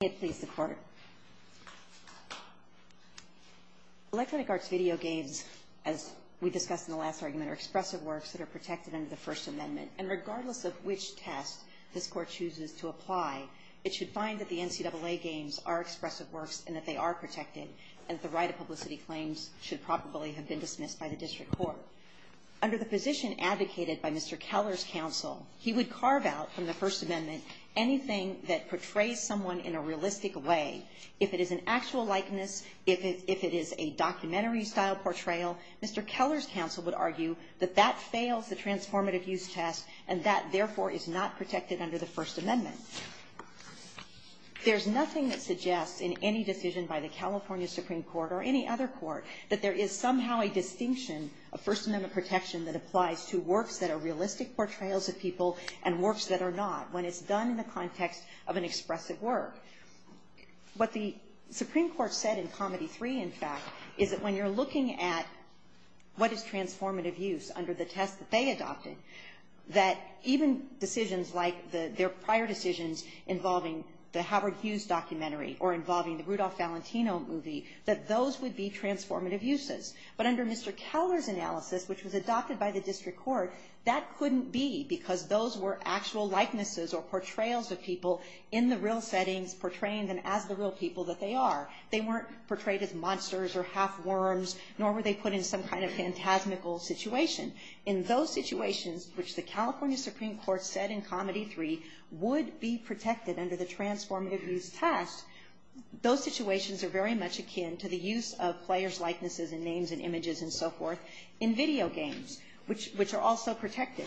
The Electronic Arts video games, as we discussed in the last argument, are expressive works that are protected under the First Amendment. And regardless of which test this Court chooses to apply, it should find that the NCAA games are expressive works and that they are protected, and that the right of publicity claims should probably have been dismissed by the District Court. Under the position advocated by Mr. Keller's counsel, he would carve out from the First Amendment anything that portrays someone in a realistic way. If it is an actual likeness, if it is a documentary-style portrayal, Mr. Keller's counsel would argue that that fails the transformative use test, and that, therefore, is not protected under the First Amendment. There's nothing that suggests, in any decision by the California Supreme Court or any other court, that there is somehow a distinction of First Amendment protection that applies to works that are realistic portrayals of people and works that are not, when it's done in the context of an expressive work. What the Supreme Court said in Comedy 3, in fact, is that when you're looking at what is transformative use under the test that they adopted, that even decisions like their prior decisions involving the Howard Hughes documentary or involving the Rudolph Valentino movie, that those would be transformative uses. But under Mr. Keller's analysis, which was adopted by the District Court, that couldn't be because those were actual likenesses or portrayals of people in the real settings, portraying them as the real people that they are. They weren't portrayed as monsters or half-worms, nor were they put in some kind of phantasmical situation. In those situations, which the California Supreme Court said in Comedy 3 would be protected under the transformative use test, those situations are very much akin to the use of players' likenesses and names and images and so forth in video games, which are also protected.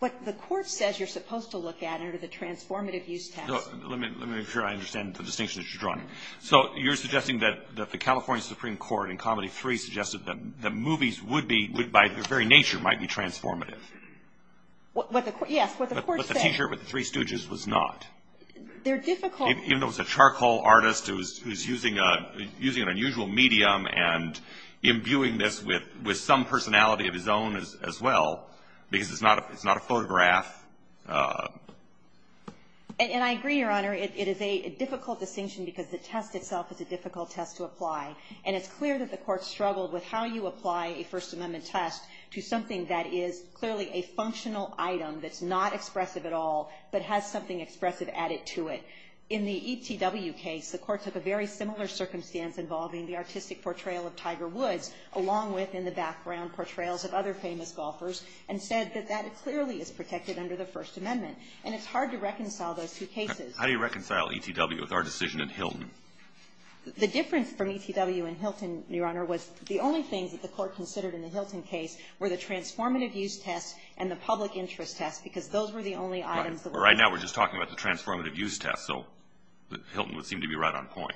What the Court says you're supposed to look at under the transformative use test. Roberts. Let me make sure I understand the distinction that you're drawing. So you're suggesting that the California Supreme Court in Comedy 3 suggested that movies would be, by their very nature, might be transformative. Yes, what the Court said. But the t-shirt with the three stooges was not. They're difficult. Even though it was a charcoal artist who's using an unusual medium and imbuing this with some personality of his own as well, because it's not a photograph. And I agree, Your Honor. It is a difficult distinction because the test itself is a difficult test to apply. And it's clear that the Court struggled with how you apply a First Amendment test to something that is clearly a functional item that's not expressive at all, but has something expressive added to it. In the ETW case, the Court took a very similar circumstance involving the artistic portrayal of Tiger Woods, along with, in the background, portrayals of other famous golfers, and said that that clearly is protected under the First Amendment. And it's hard to reconcile those two cases. How do you reconcile ETW with our decision in Hilton? The difference from ETW and Hilton, Your Honor, was the only things that the Court considered in the Hilton case were the transformative use test and the public interest test, because those were the only items that were used. Right. Right now we're just talking about the transformative use test, so Hilton would seem to be right on point.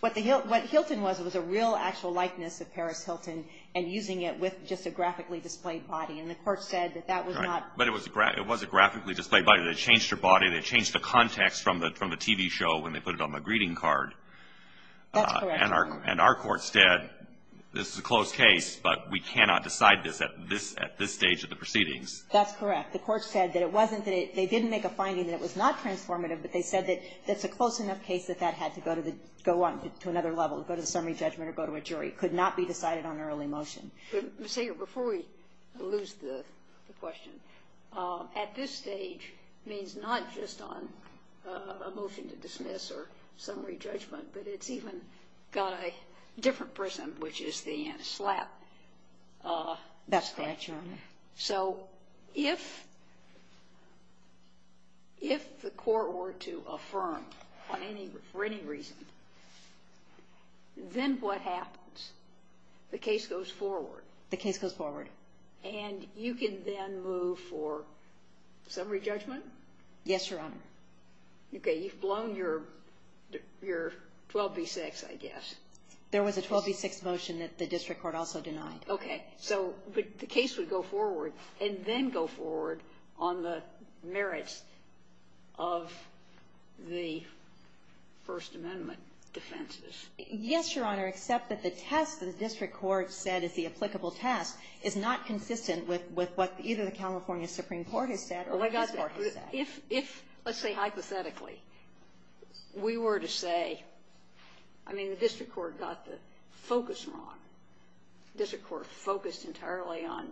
What Hilton was, it was a real actual likeness of Paris Hilton, and using it with just a graphically displayed body. And the Court said that that was not Right. But it was a graphically displayed body. They changed her body. They changed the context from the TV show when they put it on the greeting card. That's correct, Your Honor. And our Court said, this is a close case, but we cannot decide this at this stage of the proceedings. That's correct. The Court said that it wasn't that it they didn't make a finding that it was not transformative, but they said that it's a close enough case that that had to go on to another level, go to the summary judgment or go to a jury. It could not be decided on an early motion. But, Ms. Hager, before we lose the question, at this stage means not just on a motion to dismiss or summary judgment, but it's even got a different prism, which is the slap. That's correct, Your Honor. So if the Court were to affirm for any reason, then what happens? The case goes forward. The case goes forward. And you can then move for summary judgment? Yes, Your Honor. Okay. You've blown your 12b-6, I guess. There was a 12b-6 motion that the District Court also denied. Okay. So the case would go forward and then go forward on the merits of the First Amendment defenses. Yes, Your Honor, except that the test that the District Court said is the applicable test is not consistent with what either the California Supreme Court has said or the District Court has said. If, let's say hypothetically, we were to say, I mean, the District Court got the focus wrong. The District Court focused entirely on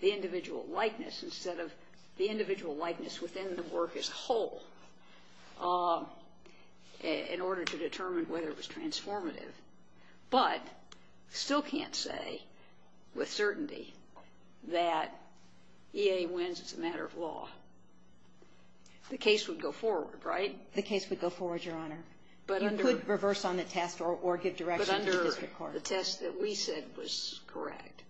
the individual likeness instead of the individual likeness within the work as a whole in order to determine whether it was transformative. But still can't say with certainty that EA wins as a matter of law. The case would go forward, right? The case would go forward, Your Honor. You could reverse on the test or give direction to the District Court. The test that we said was correct.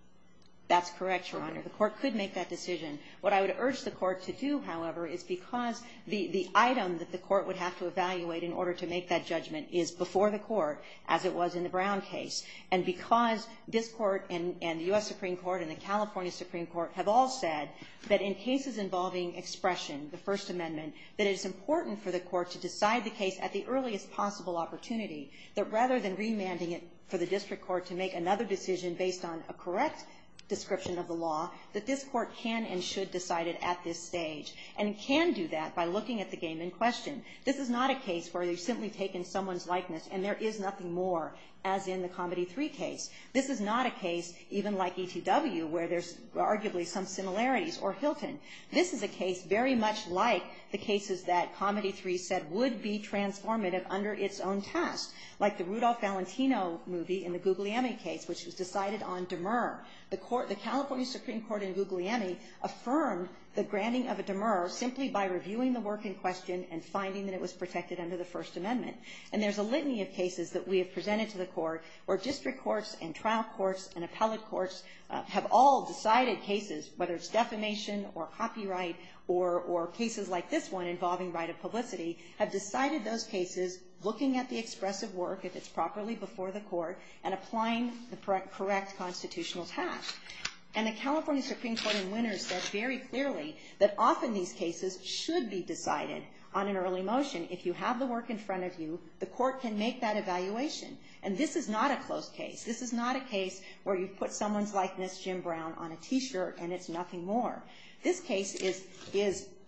That's correct, Your Honor. The Court could make that decision. What I would urge the Court to do, however, is because the item that the Court would have to evaluate in order to make that judgment is before the Court, as it was in the Brown case. And because this Court and the U.S. Supreme Court and the California Supreme Court have all said that in cases involving expression, the First Amendment, that it is important for the Court to decide the case at the earliest possible opportunity, that rather than remanding it for the District Court to make another decision based on a correct description of the law, that this Court can and should decide it at this stage. And can do that by looking at the game in question. This is not a case where they've simply taken someone's likeness and there is nothing more as in the Comedy III case. This is not a case, even like ETW, where there's arguably some similarities or Hilton. This is a case very much like the cases that Comedy III said would be transformative under its own test, like the Rudolph Valentino movie in the Guglielmi case, which was decided on demur. The Court, the California Supreme Court in Guglielmi affirmed the granting of a demur simply by reviewing the work in question and finding that it was protected under the First Amendment. And there's a litany of cases that we have presented to the Court where district courts and trial courts and appellate courts have all decided cases, whether it's defamation or copyright or cases like this one involving right of publicity, have decided those cases looking at the expressive work, if it's properly before the Court, and applying the correct constitutional task. And the California Supreme Court in Winters said very clearly that often these cases should be decided on an early motion. If you have the work in front of you, the Court can make that evaluation. And this is not a close case. This is not a case where you've put someone's likeness, Jim Brown, on a T-shirt and it's nothing more. This case is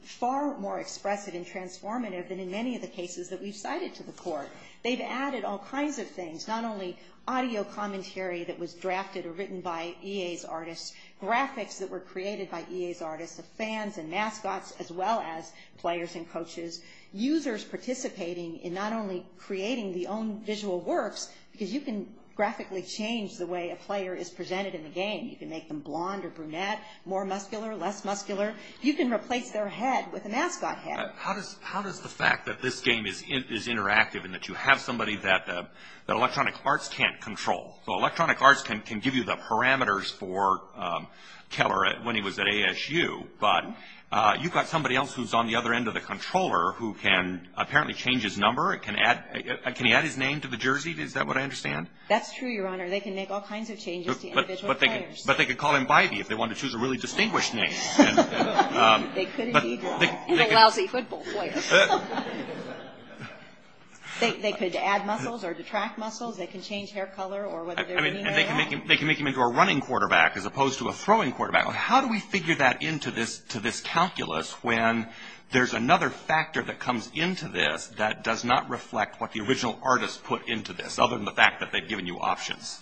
far more expressive and transformative than in many of the cases that we've cited to the Court. They've added all kinds of things, not only audio commentary that was drafted or written by EA's artists, graphics that were created by EA's artists, the fans and mascots as well as players and coaches, users participating in not only creating the own visual works, because you can graphically change the way a player is presented in the game. You can make them blonde or brunette, more muscular, less muscular. You can replace their head with a mascot head. How does the fact that this game is interactive and that you have somebody that Electronic Arts can't control, so Electronic Arts can give you the parameters for Keller when he was at ASU, but you've got somebody else who's on the other end of the controller who can apparently change his number. Can he add his name to the jersey? Is that what I understand? They can make all kinds of changes to individual players. But they could call him Bybee if they wanted to choose a really distinguished name. They could indeed, in a lousy football player. They could add muscles or detract muscles. They can change hair color or whatever they mean by that. They can make him into a running quarterback as opposed to a throwing quarterback. How do we figure that into this calculus when there's another factor that comes into this that does not reflect what the original artist put into this, other than the fact that they've given you options?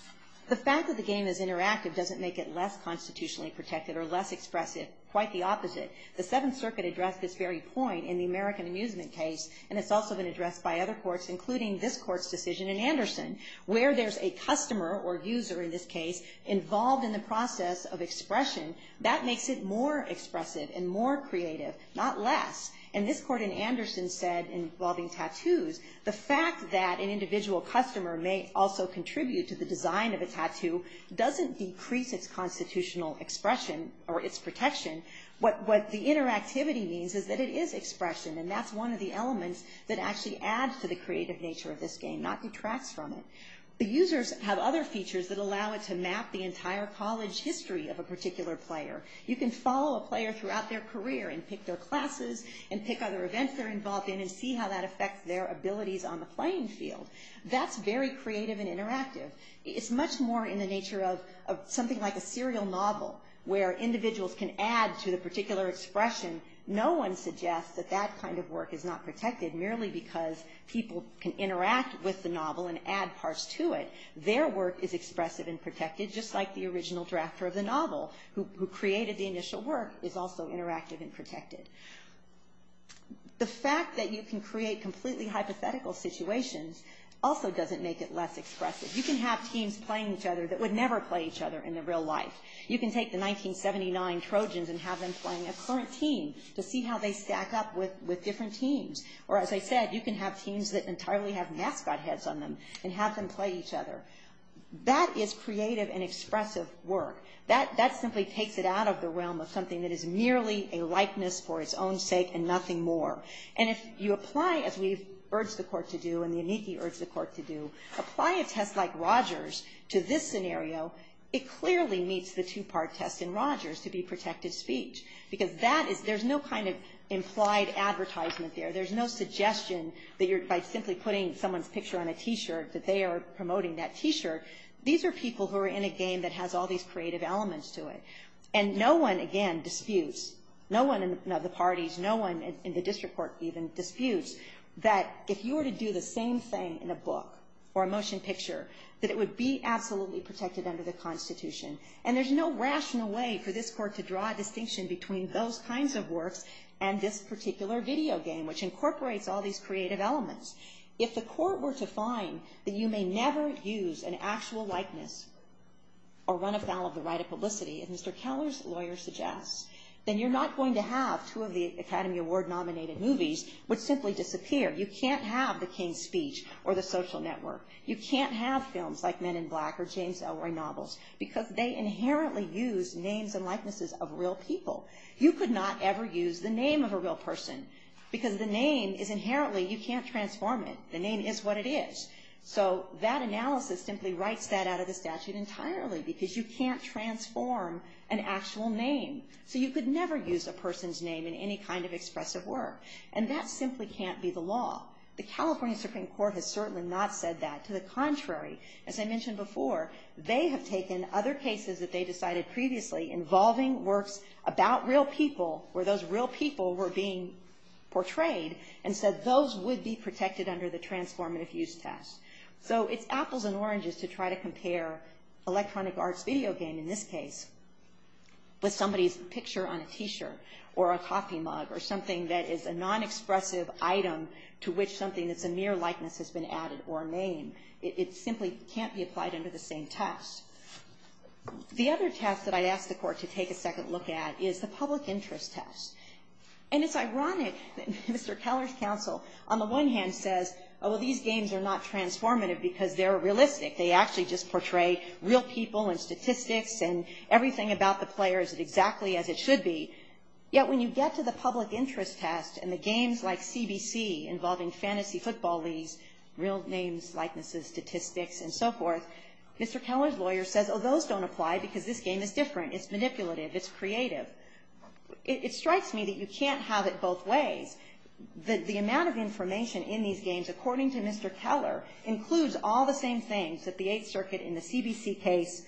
The fact that the game is interactive doesn't make it less constitutionally protected or less expressive. Quite the opposite. The Seventh Circuit addressed this very point in the American Amusement case, and it's also been addressed by other courts, including this court's decision in Anderson, where there's a customer or user in this case involved in the process of expression. That makes it more expressive and more creative, not less. And this court in Anderson said, involving tattoos, the fact that an individual customer may also contribute to the design of a tattoo doesn't decrease its constitutional expression or its protection. What the interactivity means is that it is expression, and that's one of the elements that actually adds to the creative nature of this game, not detracts from it. The users have other features that allow it to map the entire college history of a particular player. You can follow a player throughout their career and pick their classes and pick other events they're involved in and see how that affects their abilities on the playing field. That's very creative and interactive. It's much more in the nature of something like a serial novel, where individuals can add to the particular expression. No one suggests that that kind of work is not protected merely because people can interact with the novel and add parts to it. Their work is expressive and protected, just like the original drafter of the The fact that you can create completely hypothetical situations also doesn't make it less expressive. You can have teams playing each other that would never play each other in their real life. You can take the 1979 Trojans and have them playing a current team to see how they stack up with different teams. Or, as I said, you can have teams that entirely have mascot heads on them and have them play each other. That is creative and expressive work. That simply takes it out of the realm of something that is merely a likeness for its own sake and nothing more. And if you apply, as we've urged the court to do and the Eniki urged the court to do, apply a test like Rogers to this scenario, it clearly meets the two-part test in Rogers to be protected speech. Because there's no kind of implied advertisement there. There's no suggestion that by simply putting someone's picture on a T-shirt, that they are promoting that T-shirt. These are people who are in a game that has all these creative elements to it. And no one, again, disputes. No one in the parties, no one in the district court even disputes that if you were to do the same thing in a book or a motion picture, that it would be absolutely protected under the Constitution. And there's no rational way for this court to draw a distinction between those kinds of works and this particular video game, which incorporates all these creative elements. If the court were to find that you may never use an actual likeness or run afoul of the right of publicity, as Mr. Keller's lawyer suggests, then you're not going to have two of the Academy Award-nominated movies which simply disappear. You can't have The King's Speech or The Social Network. You can't have films like Men in Black or James Ellroy novels because they inherently use names and likenesses of real people. You could not ever use the name of a real person because the name is inherently you can't transform it. The name is what it is. So that analysis simply writes that out of the statute entirely because you can't transform an actual name. So you could never use a person's name in any kind of expressive work. And that simply can't be the law. The California Supreme Court has certainly not said that. To the contrary, as I mentioned before, they have taken other cases that they decided previously involving works about real people where those real people were being portrayed and said those would be protected under the transform and effuse test. So it's apples and oranges to try to compare electronic arts video game, in this case, with somebody's picture on a T-shirt or a coffee mug or something that is a non-expressive item to which something that's a mere likeness has been added or named. It simply can't be applied under the same test. The other test that I asked the Court to take a second look at is the public interest test. And it's ironic that Mr. Keller's counsel on the one hand says, oh, well, these games are not transformative because they're realistic. They actually just portray real people and statistics and everything about the player is exactly as it should be. Yet when you get to the public interest test and the games like CBC involving fantasy football leagues, real names, likenesses, statistics, and so forth, Mr. Keller's lawyer says, oh, those don't apply because this game is different. It's manipulative. It's creative. It strikes me that you can't have it both ways. The amount of information in these games, according to Mr. Keller, includes all the same things that the Eighth Circuit in the CBC case,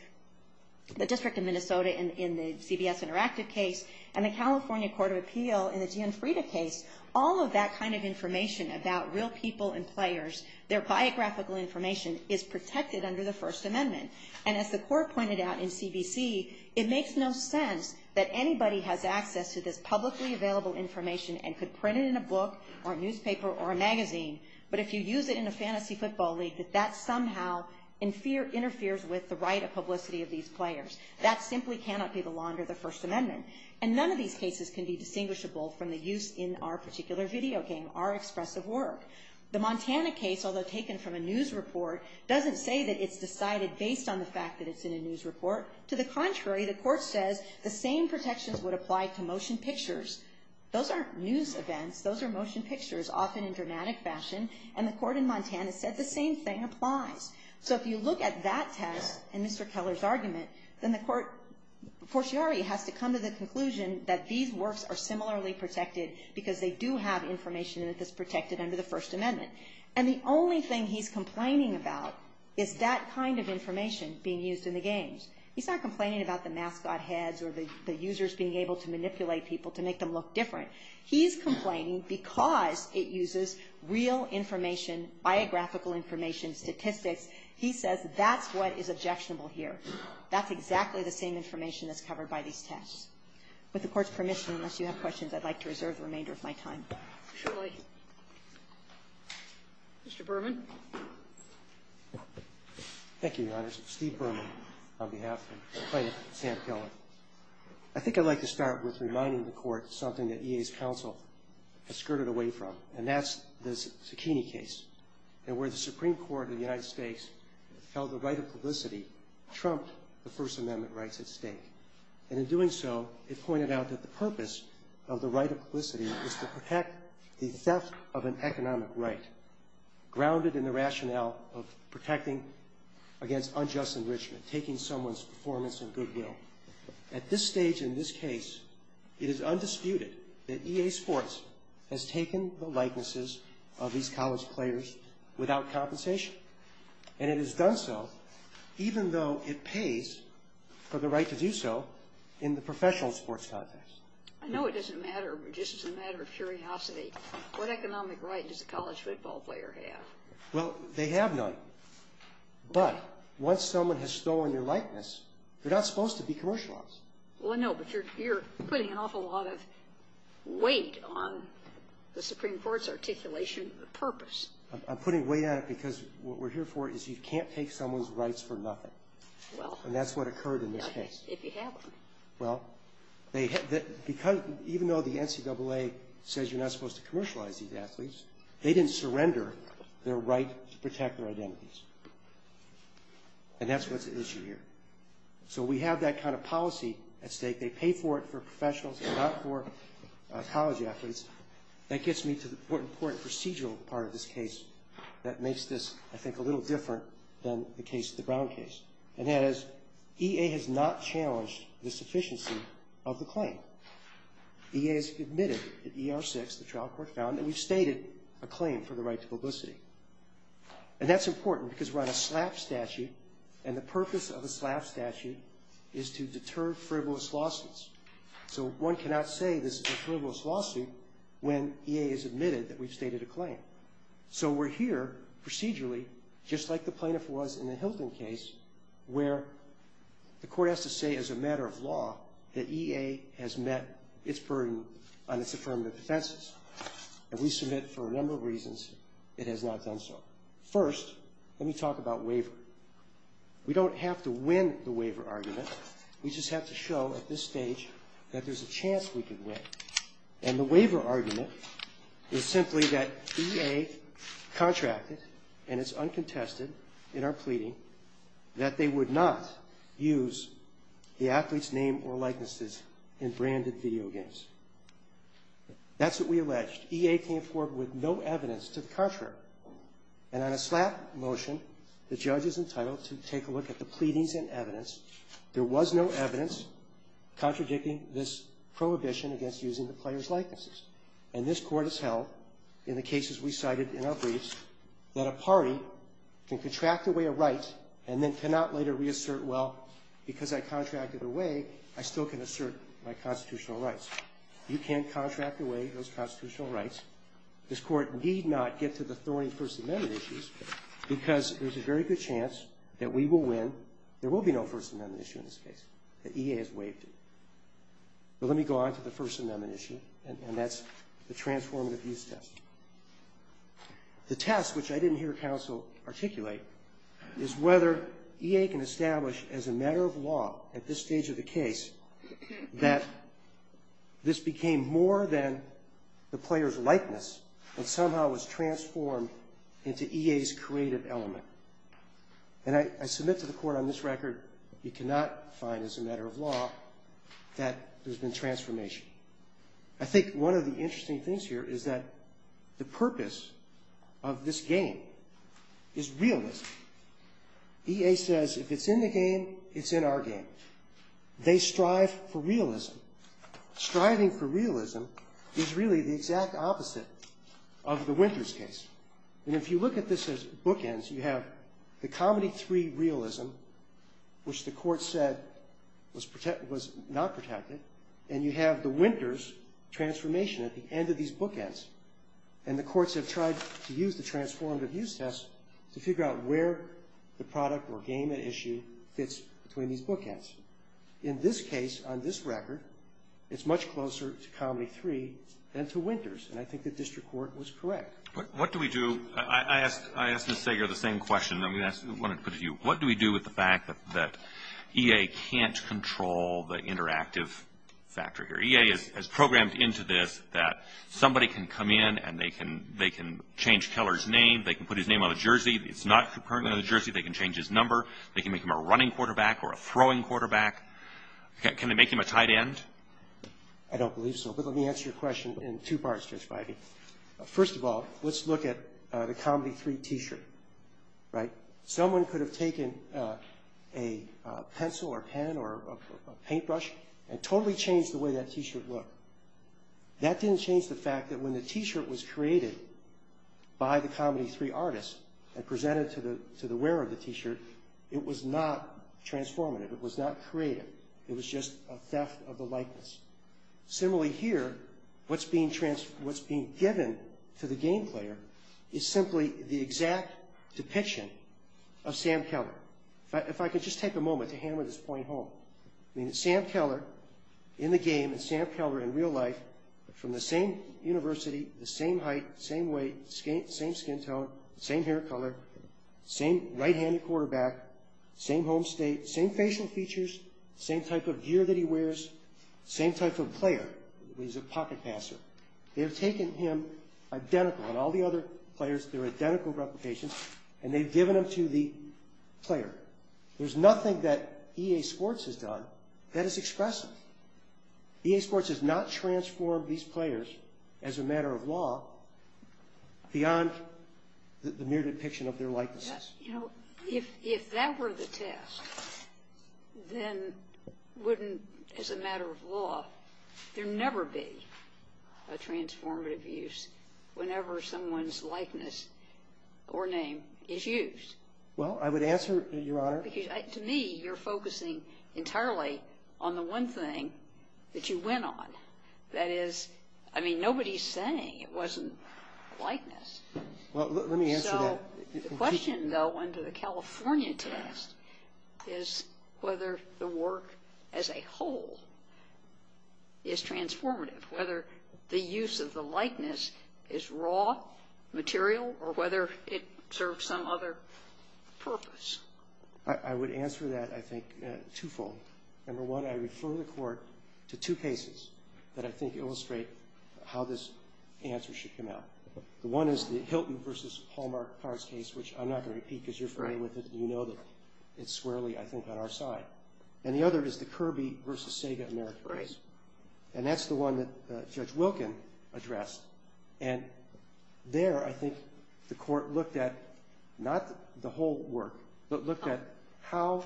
the District of Minnesota in the CBS Interactive case, and the California Court of Appeal in the Gianfrida case. All of that kind of information about real people and players, their biographical information, is protected under the First Amendment. And as the court pointed out in CBC, it makes no sense that anybody has access to this publicly available information and could print it in a book or newspaper or a magazine. But if you use it in a fantasy football league, that that somehow interferes with the right of publicity of these players. That simply cannot be the law under the First Amendment. And none of these cases can be distinguishable from the use in our particular video game, our expressive work. The Montana case, although taken from a news report, doesn't say that it's decided based on the fact that it's in a news report. To the contrary, the court says the same protections would apply to motion pictures. Those aren't news events. Those are motion pictures, often in dramatic fashion. And the court in Montana said the same thing applies. So if you look at that test and Mr. Keller's argument, then the court, forciarly, has to come to the conclusion that these works are similarly protected because they do have information that is protected under the First Amendment. And the only thing he's complaining about is that kind of information being used in the games. He's not complaining about the mascot heads or the users being able to manipulate people to make them look different. He's complaining because it uses real information, biographical information, statistics. He says that's what is objectionable here. That's exactly the same information that's covered by these tests. With the Court's permission, unless you have questions, I'd like to reserve the remainder of my time. Kagan. Mr. Berman. Thank you, Your Honors. Steve Berman on behalf of plaintiff Sam Keller. I think I'd like to start with reminding the Court something that EA's counsel has skirted away from, and that's the Cicchini case. And where the Supreme Court of the United States held the right of publicity trumped the First Amendment rights at stake. And in doing so, it pointed out that the purpose of the right of publicity is to perhaps protect the theft of an economic right, grounded in the rationale of protecting against unjust enrichment, taking someone's performance in goodwill. At this stage in this case, it is undisputed that EA Sports has taken the likenesses of these college players without compensation. And it has done so, even though it pays for the right to do so in the professional sports context. I know it doesn't matter. It's just a matter of curiosity. What economic right does a college football player have? Well, they have none. But once someone has stolen your likeness, you're not supposed to be commercialized. Well, I know, but you're putting an awful lot of weight on the Supreme Court's articulation of the purpose. I'm putting weight on it because what we're here for is you can't take someone's rights for nothing. Well. And that's what occurred in this case. If you have them. Well, even though the NCAA says you're not supposed to commercialize these athletes, they didn't surrender their right to protect their identities. And that's what's at issue here. So we have that kind of policy at stake. They pay for it for professionals and not for college athletes. That gets me to the more important procedural part of this case that makes this, I think, a little different than the Brown case. And that is EA has not challenged the sufficiency of the claim. EA has admitted at ER6, the trial court found, that we've stated a claim for the right to publicity. And that's important because we're on a slap statute, and the purpose of a slap statute is to deter frivolous lawsuits. So one cannot say this is a frivolous lawsuit when EA has admitted that we've stated a claim. So we're here procedurally, just like the plaintiff was in the Hilton case, where the court has to say as a matter of law that EA has met its burden on its affirmative defenses. And we submit for a number of reasons it has not done so. First, let me talk about waiver. We don't have to win the waiver argument. We just have to show at this stage that there's a chance we can win. And the waiver argument is simply that EA contracted, and it's uncontested in our pleading, that they would not use the athlete's name or likenesses in branded video games. That's what we alleged. EA came forward with no evidence to the contrary. And on a slap motion, the judge is entitled to take a look at the pleadings and evidence. There was no evidence contradicting this prohibition against using the player's likenesses. And this Court has held, in the cases we cited in our briefs, that a party can contract away a right and then cannot later reassert, well, because I contracted away, I still can assert my constitutional rights. You can contract away those constitutional rights. This Court need not get to the thorny First Amendment issues because there's a very good chance that we will win. There will be no First Amendment issue in this case, that EA has waived it. But let me go on to the First Amendment issue, and that's the transformative use test. The test, which I didn't hear counsel articulate, is whether EA can establish as a matter of law at this stage of the case that this became more than the player's likeness, but somehow was transformed into EA's creative element. And I submit to the Court on this record, you cannot find as a matter of law that there's been transformation. I think one of the interesting things here is that the purpose of this game is realism. EA says if it's in the game, it's in our game. They strive for realism. Striving for realism is really the exact opposite of the Winters case. And if you look at this as bookends, you have the Comedy III realism, which the Court said was not protected, and you have the Winters transformation at the end of these bookends, and the courts have tried to use the transformative use test to figure out where the product or game at issue fits between these bookends. In this case, on this record, it's much closer to Comedy III than to Winters, and I think the district court was correct. What do we do? I asked Ms. Sager the same question. I wanted to put it to you. What do we do with the fact that EA can't control the interactive factor here? EA has programmed into this that somebody can come in and they can change Keller's name, they can put his name on a jersey. It's not currently on a jersey. They can change his number. They can make him a running quarterback or a throwing quarterback. Can they make him a tight end? I don't believe so, but let me answer your question in two parts, Judge Bidey. First of all, let's look at the Comedy III t-shirt, right? Someone could have taken a pencil or pen or a paintbrush and totally changed the way that t-shirt looked. That didn't change the fact that when the t-shirt was created by the Comedy III artists and presented to the wearer of the t-shirt, it was not transformative. It was not creative. It was just a theft of the likeness. Similarly here, what's being given to the game player is simply the exact depiction of Sam Keller. If I could just take a moment to hammer this point home. Sam Keller in the game, Sam Keller in real life, from the same university, the same height, same weight, same skin tone, same hair color, same right-handed quarterback, same home state, same facial features, same type of gear that he wears, same type of player. He's a pocket passer. They've taken him identical, and all the other players, their identical replications, and they've given them to the player. There's nothing that EA Sports has done that is expressive. EA Sports has not transformed these players, as a matter of law, beyond the mere depiction of their likenesses. If that were the test, then wouldn't, as a matter of law, there never be a transformative use whenever someone's likeness or name is used? Well, I would answer, Your Honor. Because to me, you're focusing entirely on the one thing that you went on. That is, I mean, nobody's saying it wasn't likeness. Well, let me answer that. The question, though, under the California test is whether the work as a whole is transformative, whether the use of the likeness is raw material or whether it serves some other purpose. I would answer that, I think, twofold. Number one, I refer the Court to two cases that I think illustrate how this answer should come out. The one is the Hilton versus Hallmark Powers case, which I'm not going to repeat because you're familiar with it and you know that it's squarely, I think, on our side. And the other is the Kirby versus Sega America case. And that's the one that Judge Wilkin addressed. And there, I think, the Court looked at not the whole work, but looked at how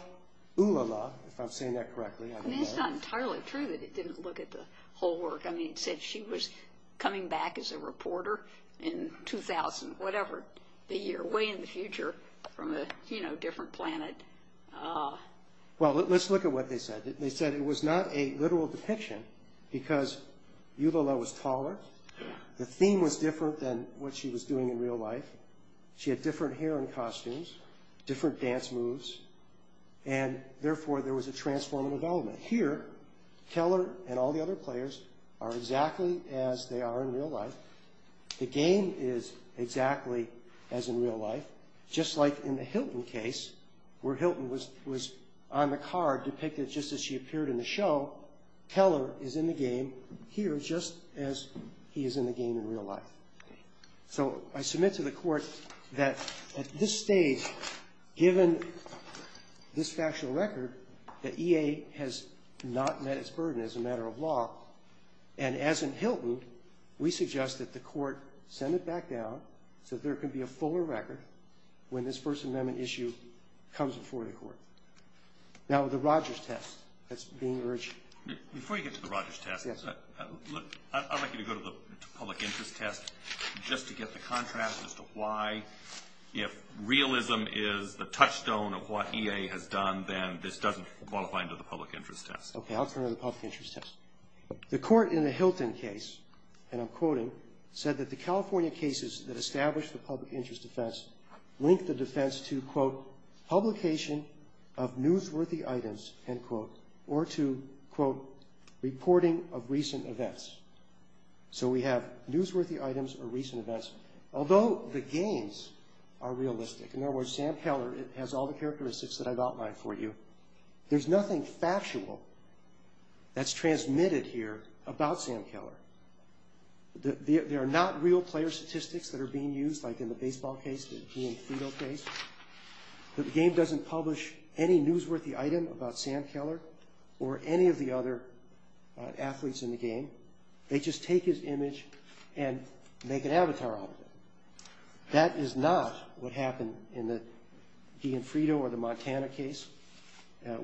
Ulala, if I'm saying that correctly. I mean, it's not entirely true that it didn't look at the whole work. I mean, it said she was coming back as a reporter in 2000, whatever the year, way in the future from a different planet. Well, let's look at what they said. They said it was not a literal depiction because Ulala was taller. The theme was different than what she was doing in real life. She had different hair and costumes, different dance moves, and therefore, there was a transformative element. Here, Keller and all the other players are exactly as they are in real life. The game is exactly as in real life, just like in the Hilton case where Hilton was on the card depicted just as she appeared in the show. Keller is in the game here just as he is in the game in real life. So I submit to the Court that at this stage, given this factual record, that EA has not met its burden as a matter of law, and as in Hilton, we suggest that the Court send it back down so there can be a fuller record when this First Amendment issue comes before the Court. Now, the Rogers test that's being urged. Before you get to the Rogers test, I'd like you to go to the public interest test just to get the contrast as to why, if realism is the touchstone of what EA has done, then this doesn't qualify under the public interest test. Okay, I'll turn to the public interest test. The Court in the Hilton case, and I'm quoting, said that the California cases that established the public interest defense linked the defense to, quote, reporting of recent events. So we have newsworthy items or recent events. Although the games are realistic, in other words, Sam Keller has all the characteristics that I've outlined for you, there's nothing factual that's transmitted here about Sam Keller. There are not real player statistics that are being used, like in the baseball case, the Ian Fito case, that the game doesn't publish any newsworthy item about Sam Keller or any of the other athletes in the game. They just take his image and make an avatar out of it. That is not what happened in the Ian Fito or the Montana case,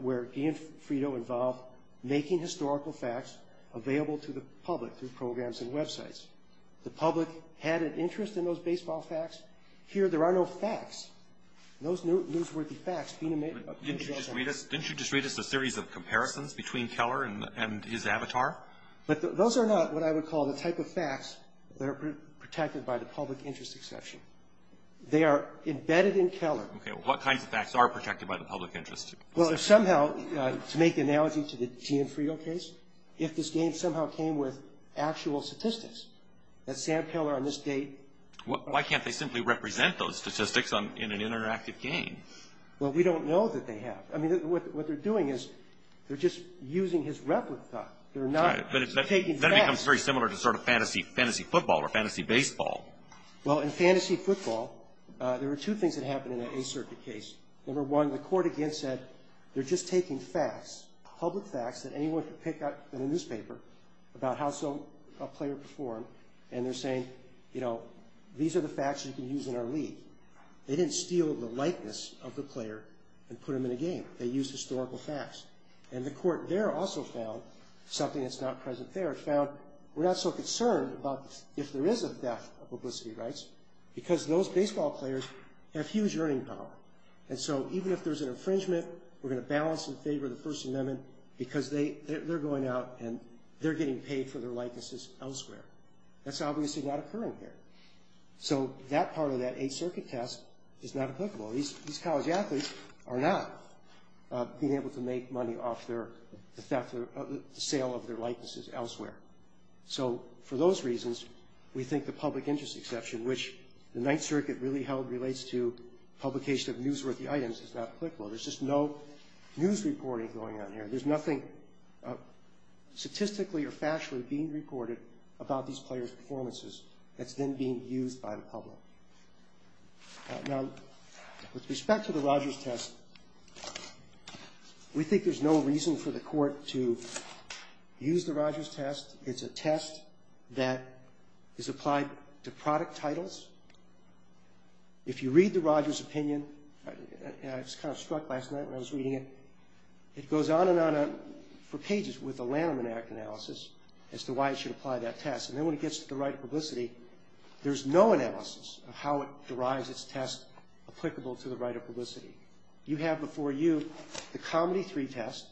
where Ian Fito involved making historical facts available to the public through programs and websites. The public had an interest in those baseball facts. Here, there are no facts. Those newsworthy facts being made up of baseball facts. But didn't you just read us a series of comparisons between Keller and his avatar? But those are not what I would call the type of facts that are protected by the public interest exception. They are embedded in Keller. Okay. What kinds of facts are protected by the public interest? Well, if somehow, to make the analogy to the Ian Fito case, if this game somehow came with actual statistics, that Sam Keller on this date. Why can't they simply represent those statistics in an interactive game? Well, we don't know that they have. I mean, what they're doing is they're just using his replica. They're not taking facts. Then it becomes very similar to sort of fantasy football or fantasy baseball. Well, in fantasy football, there are two things that happen in an A-Circuit case. Number one, the court again said, they're just taking facts, public facts that anyone could pick up in a newspaper about how a player performed. And they're saying, you know, these are the facts you can use in our league. They didn't steal the likeness of the player and put them in a game. They used historical facts. And the court there also found something that's not present there. It found we're not so concerned about if there is a theft of publicity rights because those baseball players have huge earning power. And so even if there's an infringement, we're going to balance in favor of the First Amendment because they're going out and they're getting paid for their That's obviously not occurring here. So that part of that A-Circuit test is not applicable. These college athletes are not being able to make money off the sale of their likenesses elsewhere. So for those reasons, we think the public interest exception, which the Ninth Circuit really held relates to publication of newsworthy items, is not applicable. There's just no news reporting going on here. There's nothing statistically or factually being reported about these players' performances that's then being used by the public. Now, with respect to the Rogers test, we think there's no reason for the court to use the Rogers test. It's a test that is applied to product titles. If you read the Rogers opinion, and I was kind of struck last night when I was reading it, it goes on and on for pages with a Lanham Act analysis as to why it should apply that test. And then when it gets to the right of publicity, there's no analysis of how it derives its test applicable to the right of publicity. You have before you the Comedy 3 test.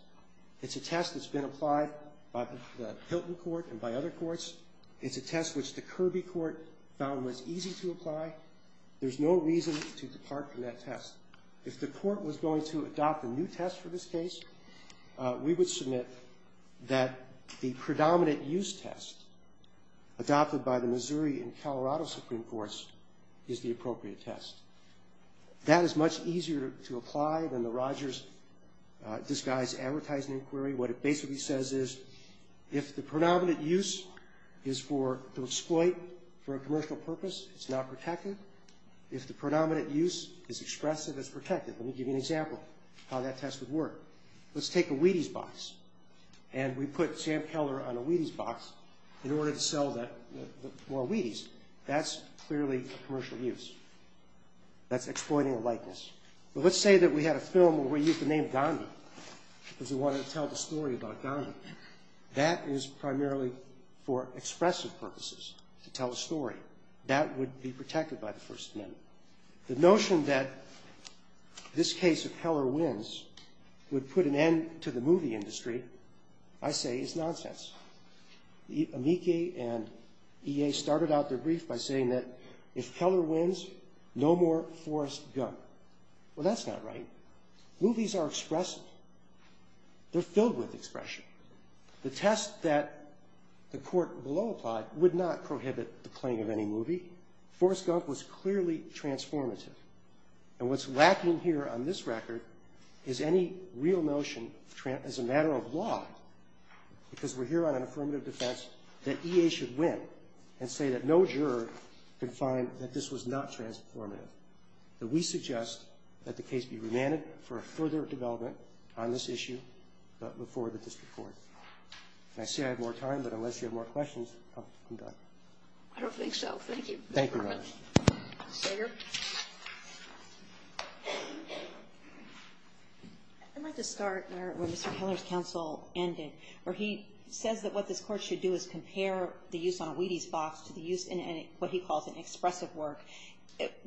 It's a test that's been applied by the Hilton Court and by other courts. It's a test which the Kirby Court found was easy to apply. There's no reason to depart from that test. If the court was going to adopt a new test for this case, we would submit that the predominant use test adopted by the Missouri and Colorado Supreme Courts is the appropriate test. That is much easier to apply than the Rogers disguised advertising inquiry. What it basically says is if the predominant use is to exploit for a commercial purpose, it's not protected. If the predominant use is expressive, it's protected. Let me give you an example of how that test would work. Let's take a Wheaties box, and we put Sam Keller on a Wheaties box in order to sell more Wheaties. That's clearly a commercial use. That's exploiting a likeness. But let's say that we had a film where we used the name Gandhi because we wanted to tell the story about Gandhi. That is primarily for expressive purposes, to tell a story. That would be protected by the First Amendment. The notion that this case, if Keller wins, would put an end to the movie industry, I say is nonsense. Amici and EA started out their brief by saying that if Keller wins, no more Forrest Gump. Well, that's not right. Movies are expressive. They're filled with expression. The test that the court below applied would not prohibit the playing of any movie. Forrest Gump was clearly transformative. And what's lacking here on this record is any real notion as a matter of law, because we're here on an affirmative defense, that EA should win and say that no juror can find that this was not transformative, that we suggest that the case be remanded for further development on this issue before the district court. And I say I have more time, but unless you have more questions, I'm done. I don't think so. Thank you. Thank you very much. Senator? I'd like to start where Mr. Keller's counsel ended, where he says that what this court should do is compare the use on a Wheaties box to the use in what he calls an expressive work.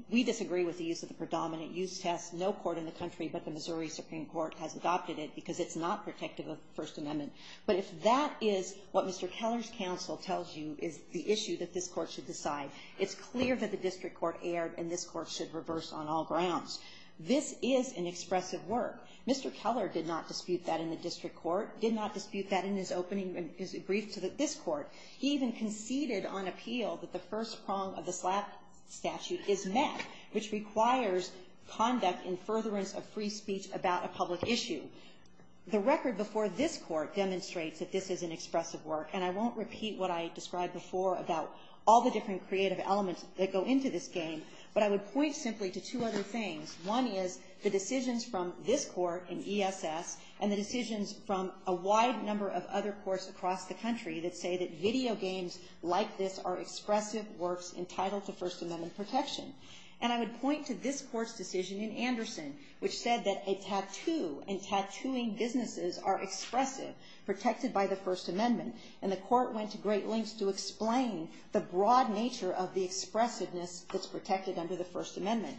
We disagree with the use of the predominant use test. No court in the country but the Missouri Supreme Court has adopted it because it's not protective of the First Amendment. But if that is what Mr. Keller's counsel tells you is the issue that this court should decide, it's clear that the district court erred and this court should reverse on all grounds. This is an expressive work. Mr. Keller did not dispute that in the district court, did not dispute that in his opening brief to this court. He even conceded on appeal that the first prong of the SLAP statute is met, which requires conduct in furtherance of free speech about a public issue. The record before this court demonstrates that this is an expressive work, and I won't repeat what I described before about all the different creative elements that go into this game, but I would point simply to two other things. One is the decisions from this court in ESS and the decisions from a wide number of other courts across the country that say that video games like this are expressive works entitled to First Amendment protection. And I would point to this court's decision in Anderson, which said that a tattoo and tattooing businesses are expressive, protected by the First Amendment. And the court went to great lengths to explain the broad nature of the expressiveness that's protected under the First Amendment.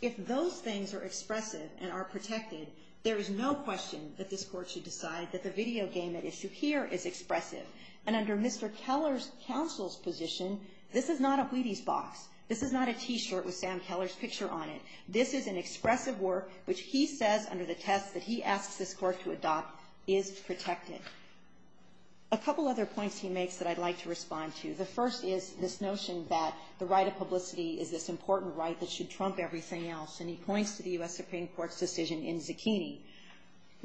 If those things are expressive and are protected, there is no question that this court should decide that the video game at issue here is expressive. And under Mr. Keller's counsel's position, this is not a Wheaties box. This is not a T-shirt with Sam Keller's picture on it. This is an expressive work which he says under the test that he asks this court to adopt is protected. A couple other points he makes that I'd like to respond to. The first is this notion that the right of publicity is this important right that should trump everything else, The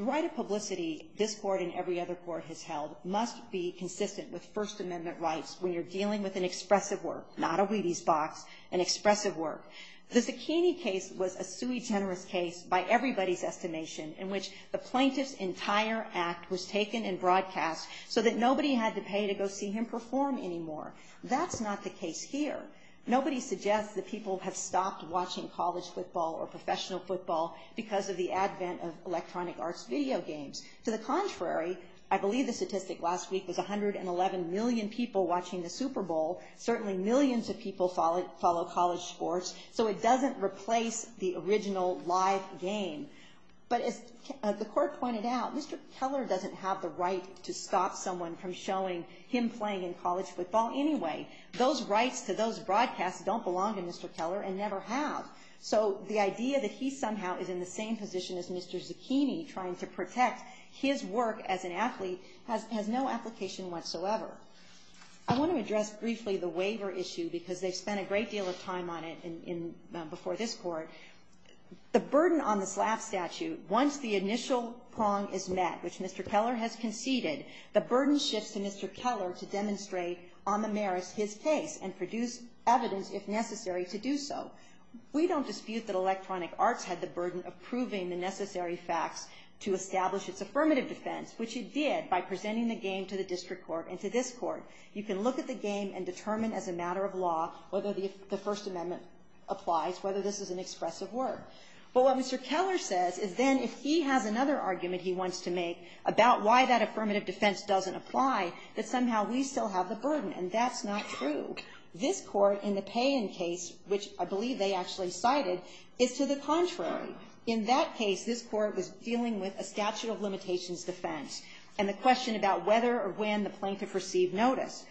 right of publicity this court and every other court has held must be consistent with First Amendment rights when you're dealing with an expressive work, not a Wheaties box, an expressive work. The zucchini case was a sui generis case by everybody's estimation in which the plaintiff's entire act was taken and broadcast so that nobody had to pay to go see him perform anymore. That's not the case here. Nobody suggests that people have stopped watching college football or electronic arts video games. To the contrary, I believe the statistic last week was 111 million people watching the Super Bowl. Certainly millions of people follow college sports. So it doesn't replace the original live game. But as the court pointed out, Mr. Keller doesn't have the right to stop someone from showing him playing in college football anyway. Those rights to those broadcasts don't belong to Mr. Keller and never have. So the idea that he somehow is in the same position as Mr. Zucchini trying to protect his work as an athlete has no application whatsoever. I want to address briefly the waiver issue because they've spent a great deal of time on it before this court. The burden on the SLAF statute, once the initial prong is met, which Mr. Keller has conceded, the burden shifts to Mr. Keller to demonstrate on the merits his case and produce evidence if necessary to do so. We don't dispute that electronic arts had the burden of proving the necessary facts to establish its affirmative defense, which it did by presenting the game to the district court and to this court. You can look at the game and determine as a matter of law whether the First Amendment applies, whether this is an expressive work. But what Mr. Keller says is then if he has another argument he wants to make about why that affirmative defense doesn't apply, that somehow we still have the burden, and that's not true. This court in the Payen case, which I believe they actually cited, is to the contrary. In that case, this court was dealing with a statute of limitations defense, and the question about whether or when the plaintiff received notice.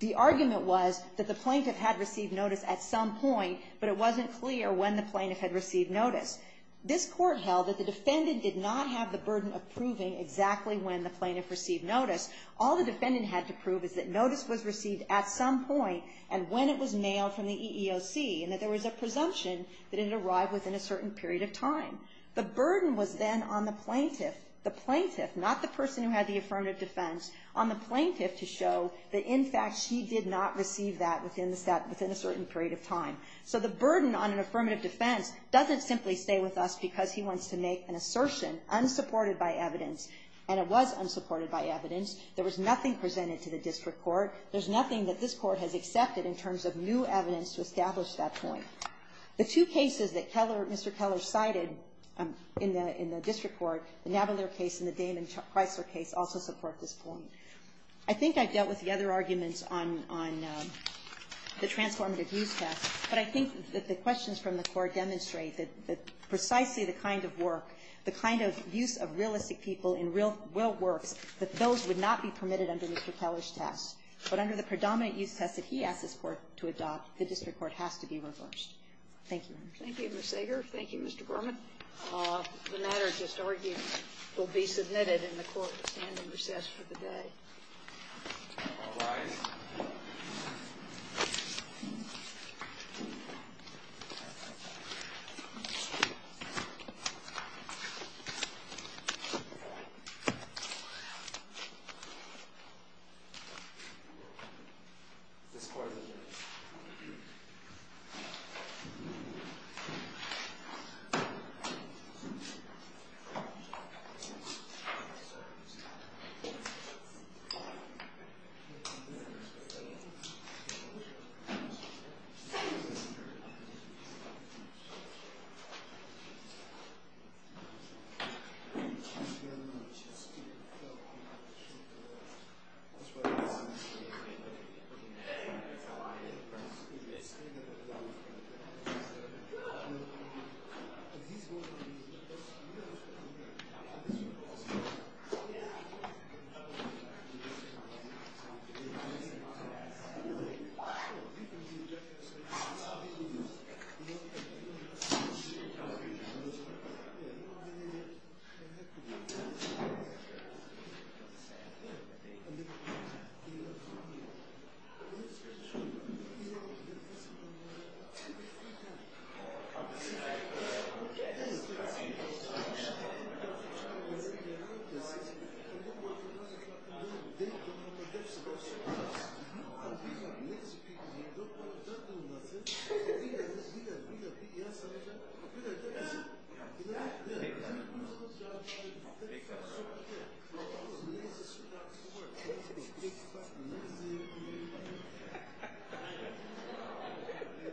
The argument was that the plaintiff had received notice at some point, but it wasn't clear when the plaintiff had received notice. This court held that the defendant did not have the burden of proving exactly when the plaintiff received notice. All the defendant had to prove is that notice was received at some point and when it was mailed from the EEOC, and that there was a presumption that it had arrived within a certain period of time. The burden was then on the plaintiff, the plaintiff, not the person who had the affirmative defense, on the plaintiff to show that in fact she did not receive that within a certain period of time. So the burden on an affirmative defense doesn't simply stay with us because he wants to make an assertion unsupported by evidence, and it was unsupported by evidence. There was nothing presented to the district court. There's nothing that this Court has accepted in terms of new evidence to establish that point. The two cases that Keller, Mr. Keller, cited in the district court, the Navalier case and the Damon-Chrysler case, also support this point. I think I've dealt with the other arguments on the transformative use test, but I think that the questions from the Court demonstrate that precisely the kind of work, the kind of use of realistic people in real works, that those would not be permitted under Mr. Keller's test. But under the predominant use test that he asked this Court to adopt, the district court has to be reversed. Thank you, Your Honor. Thank you, Mr. Ager. Thank you, Mr. Berman. The matter just argued will be submitted in the court standing recess for the day. Thank you. Thank you. Thank you. Thank you. Thank you. Thank you. Thank you.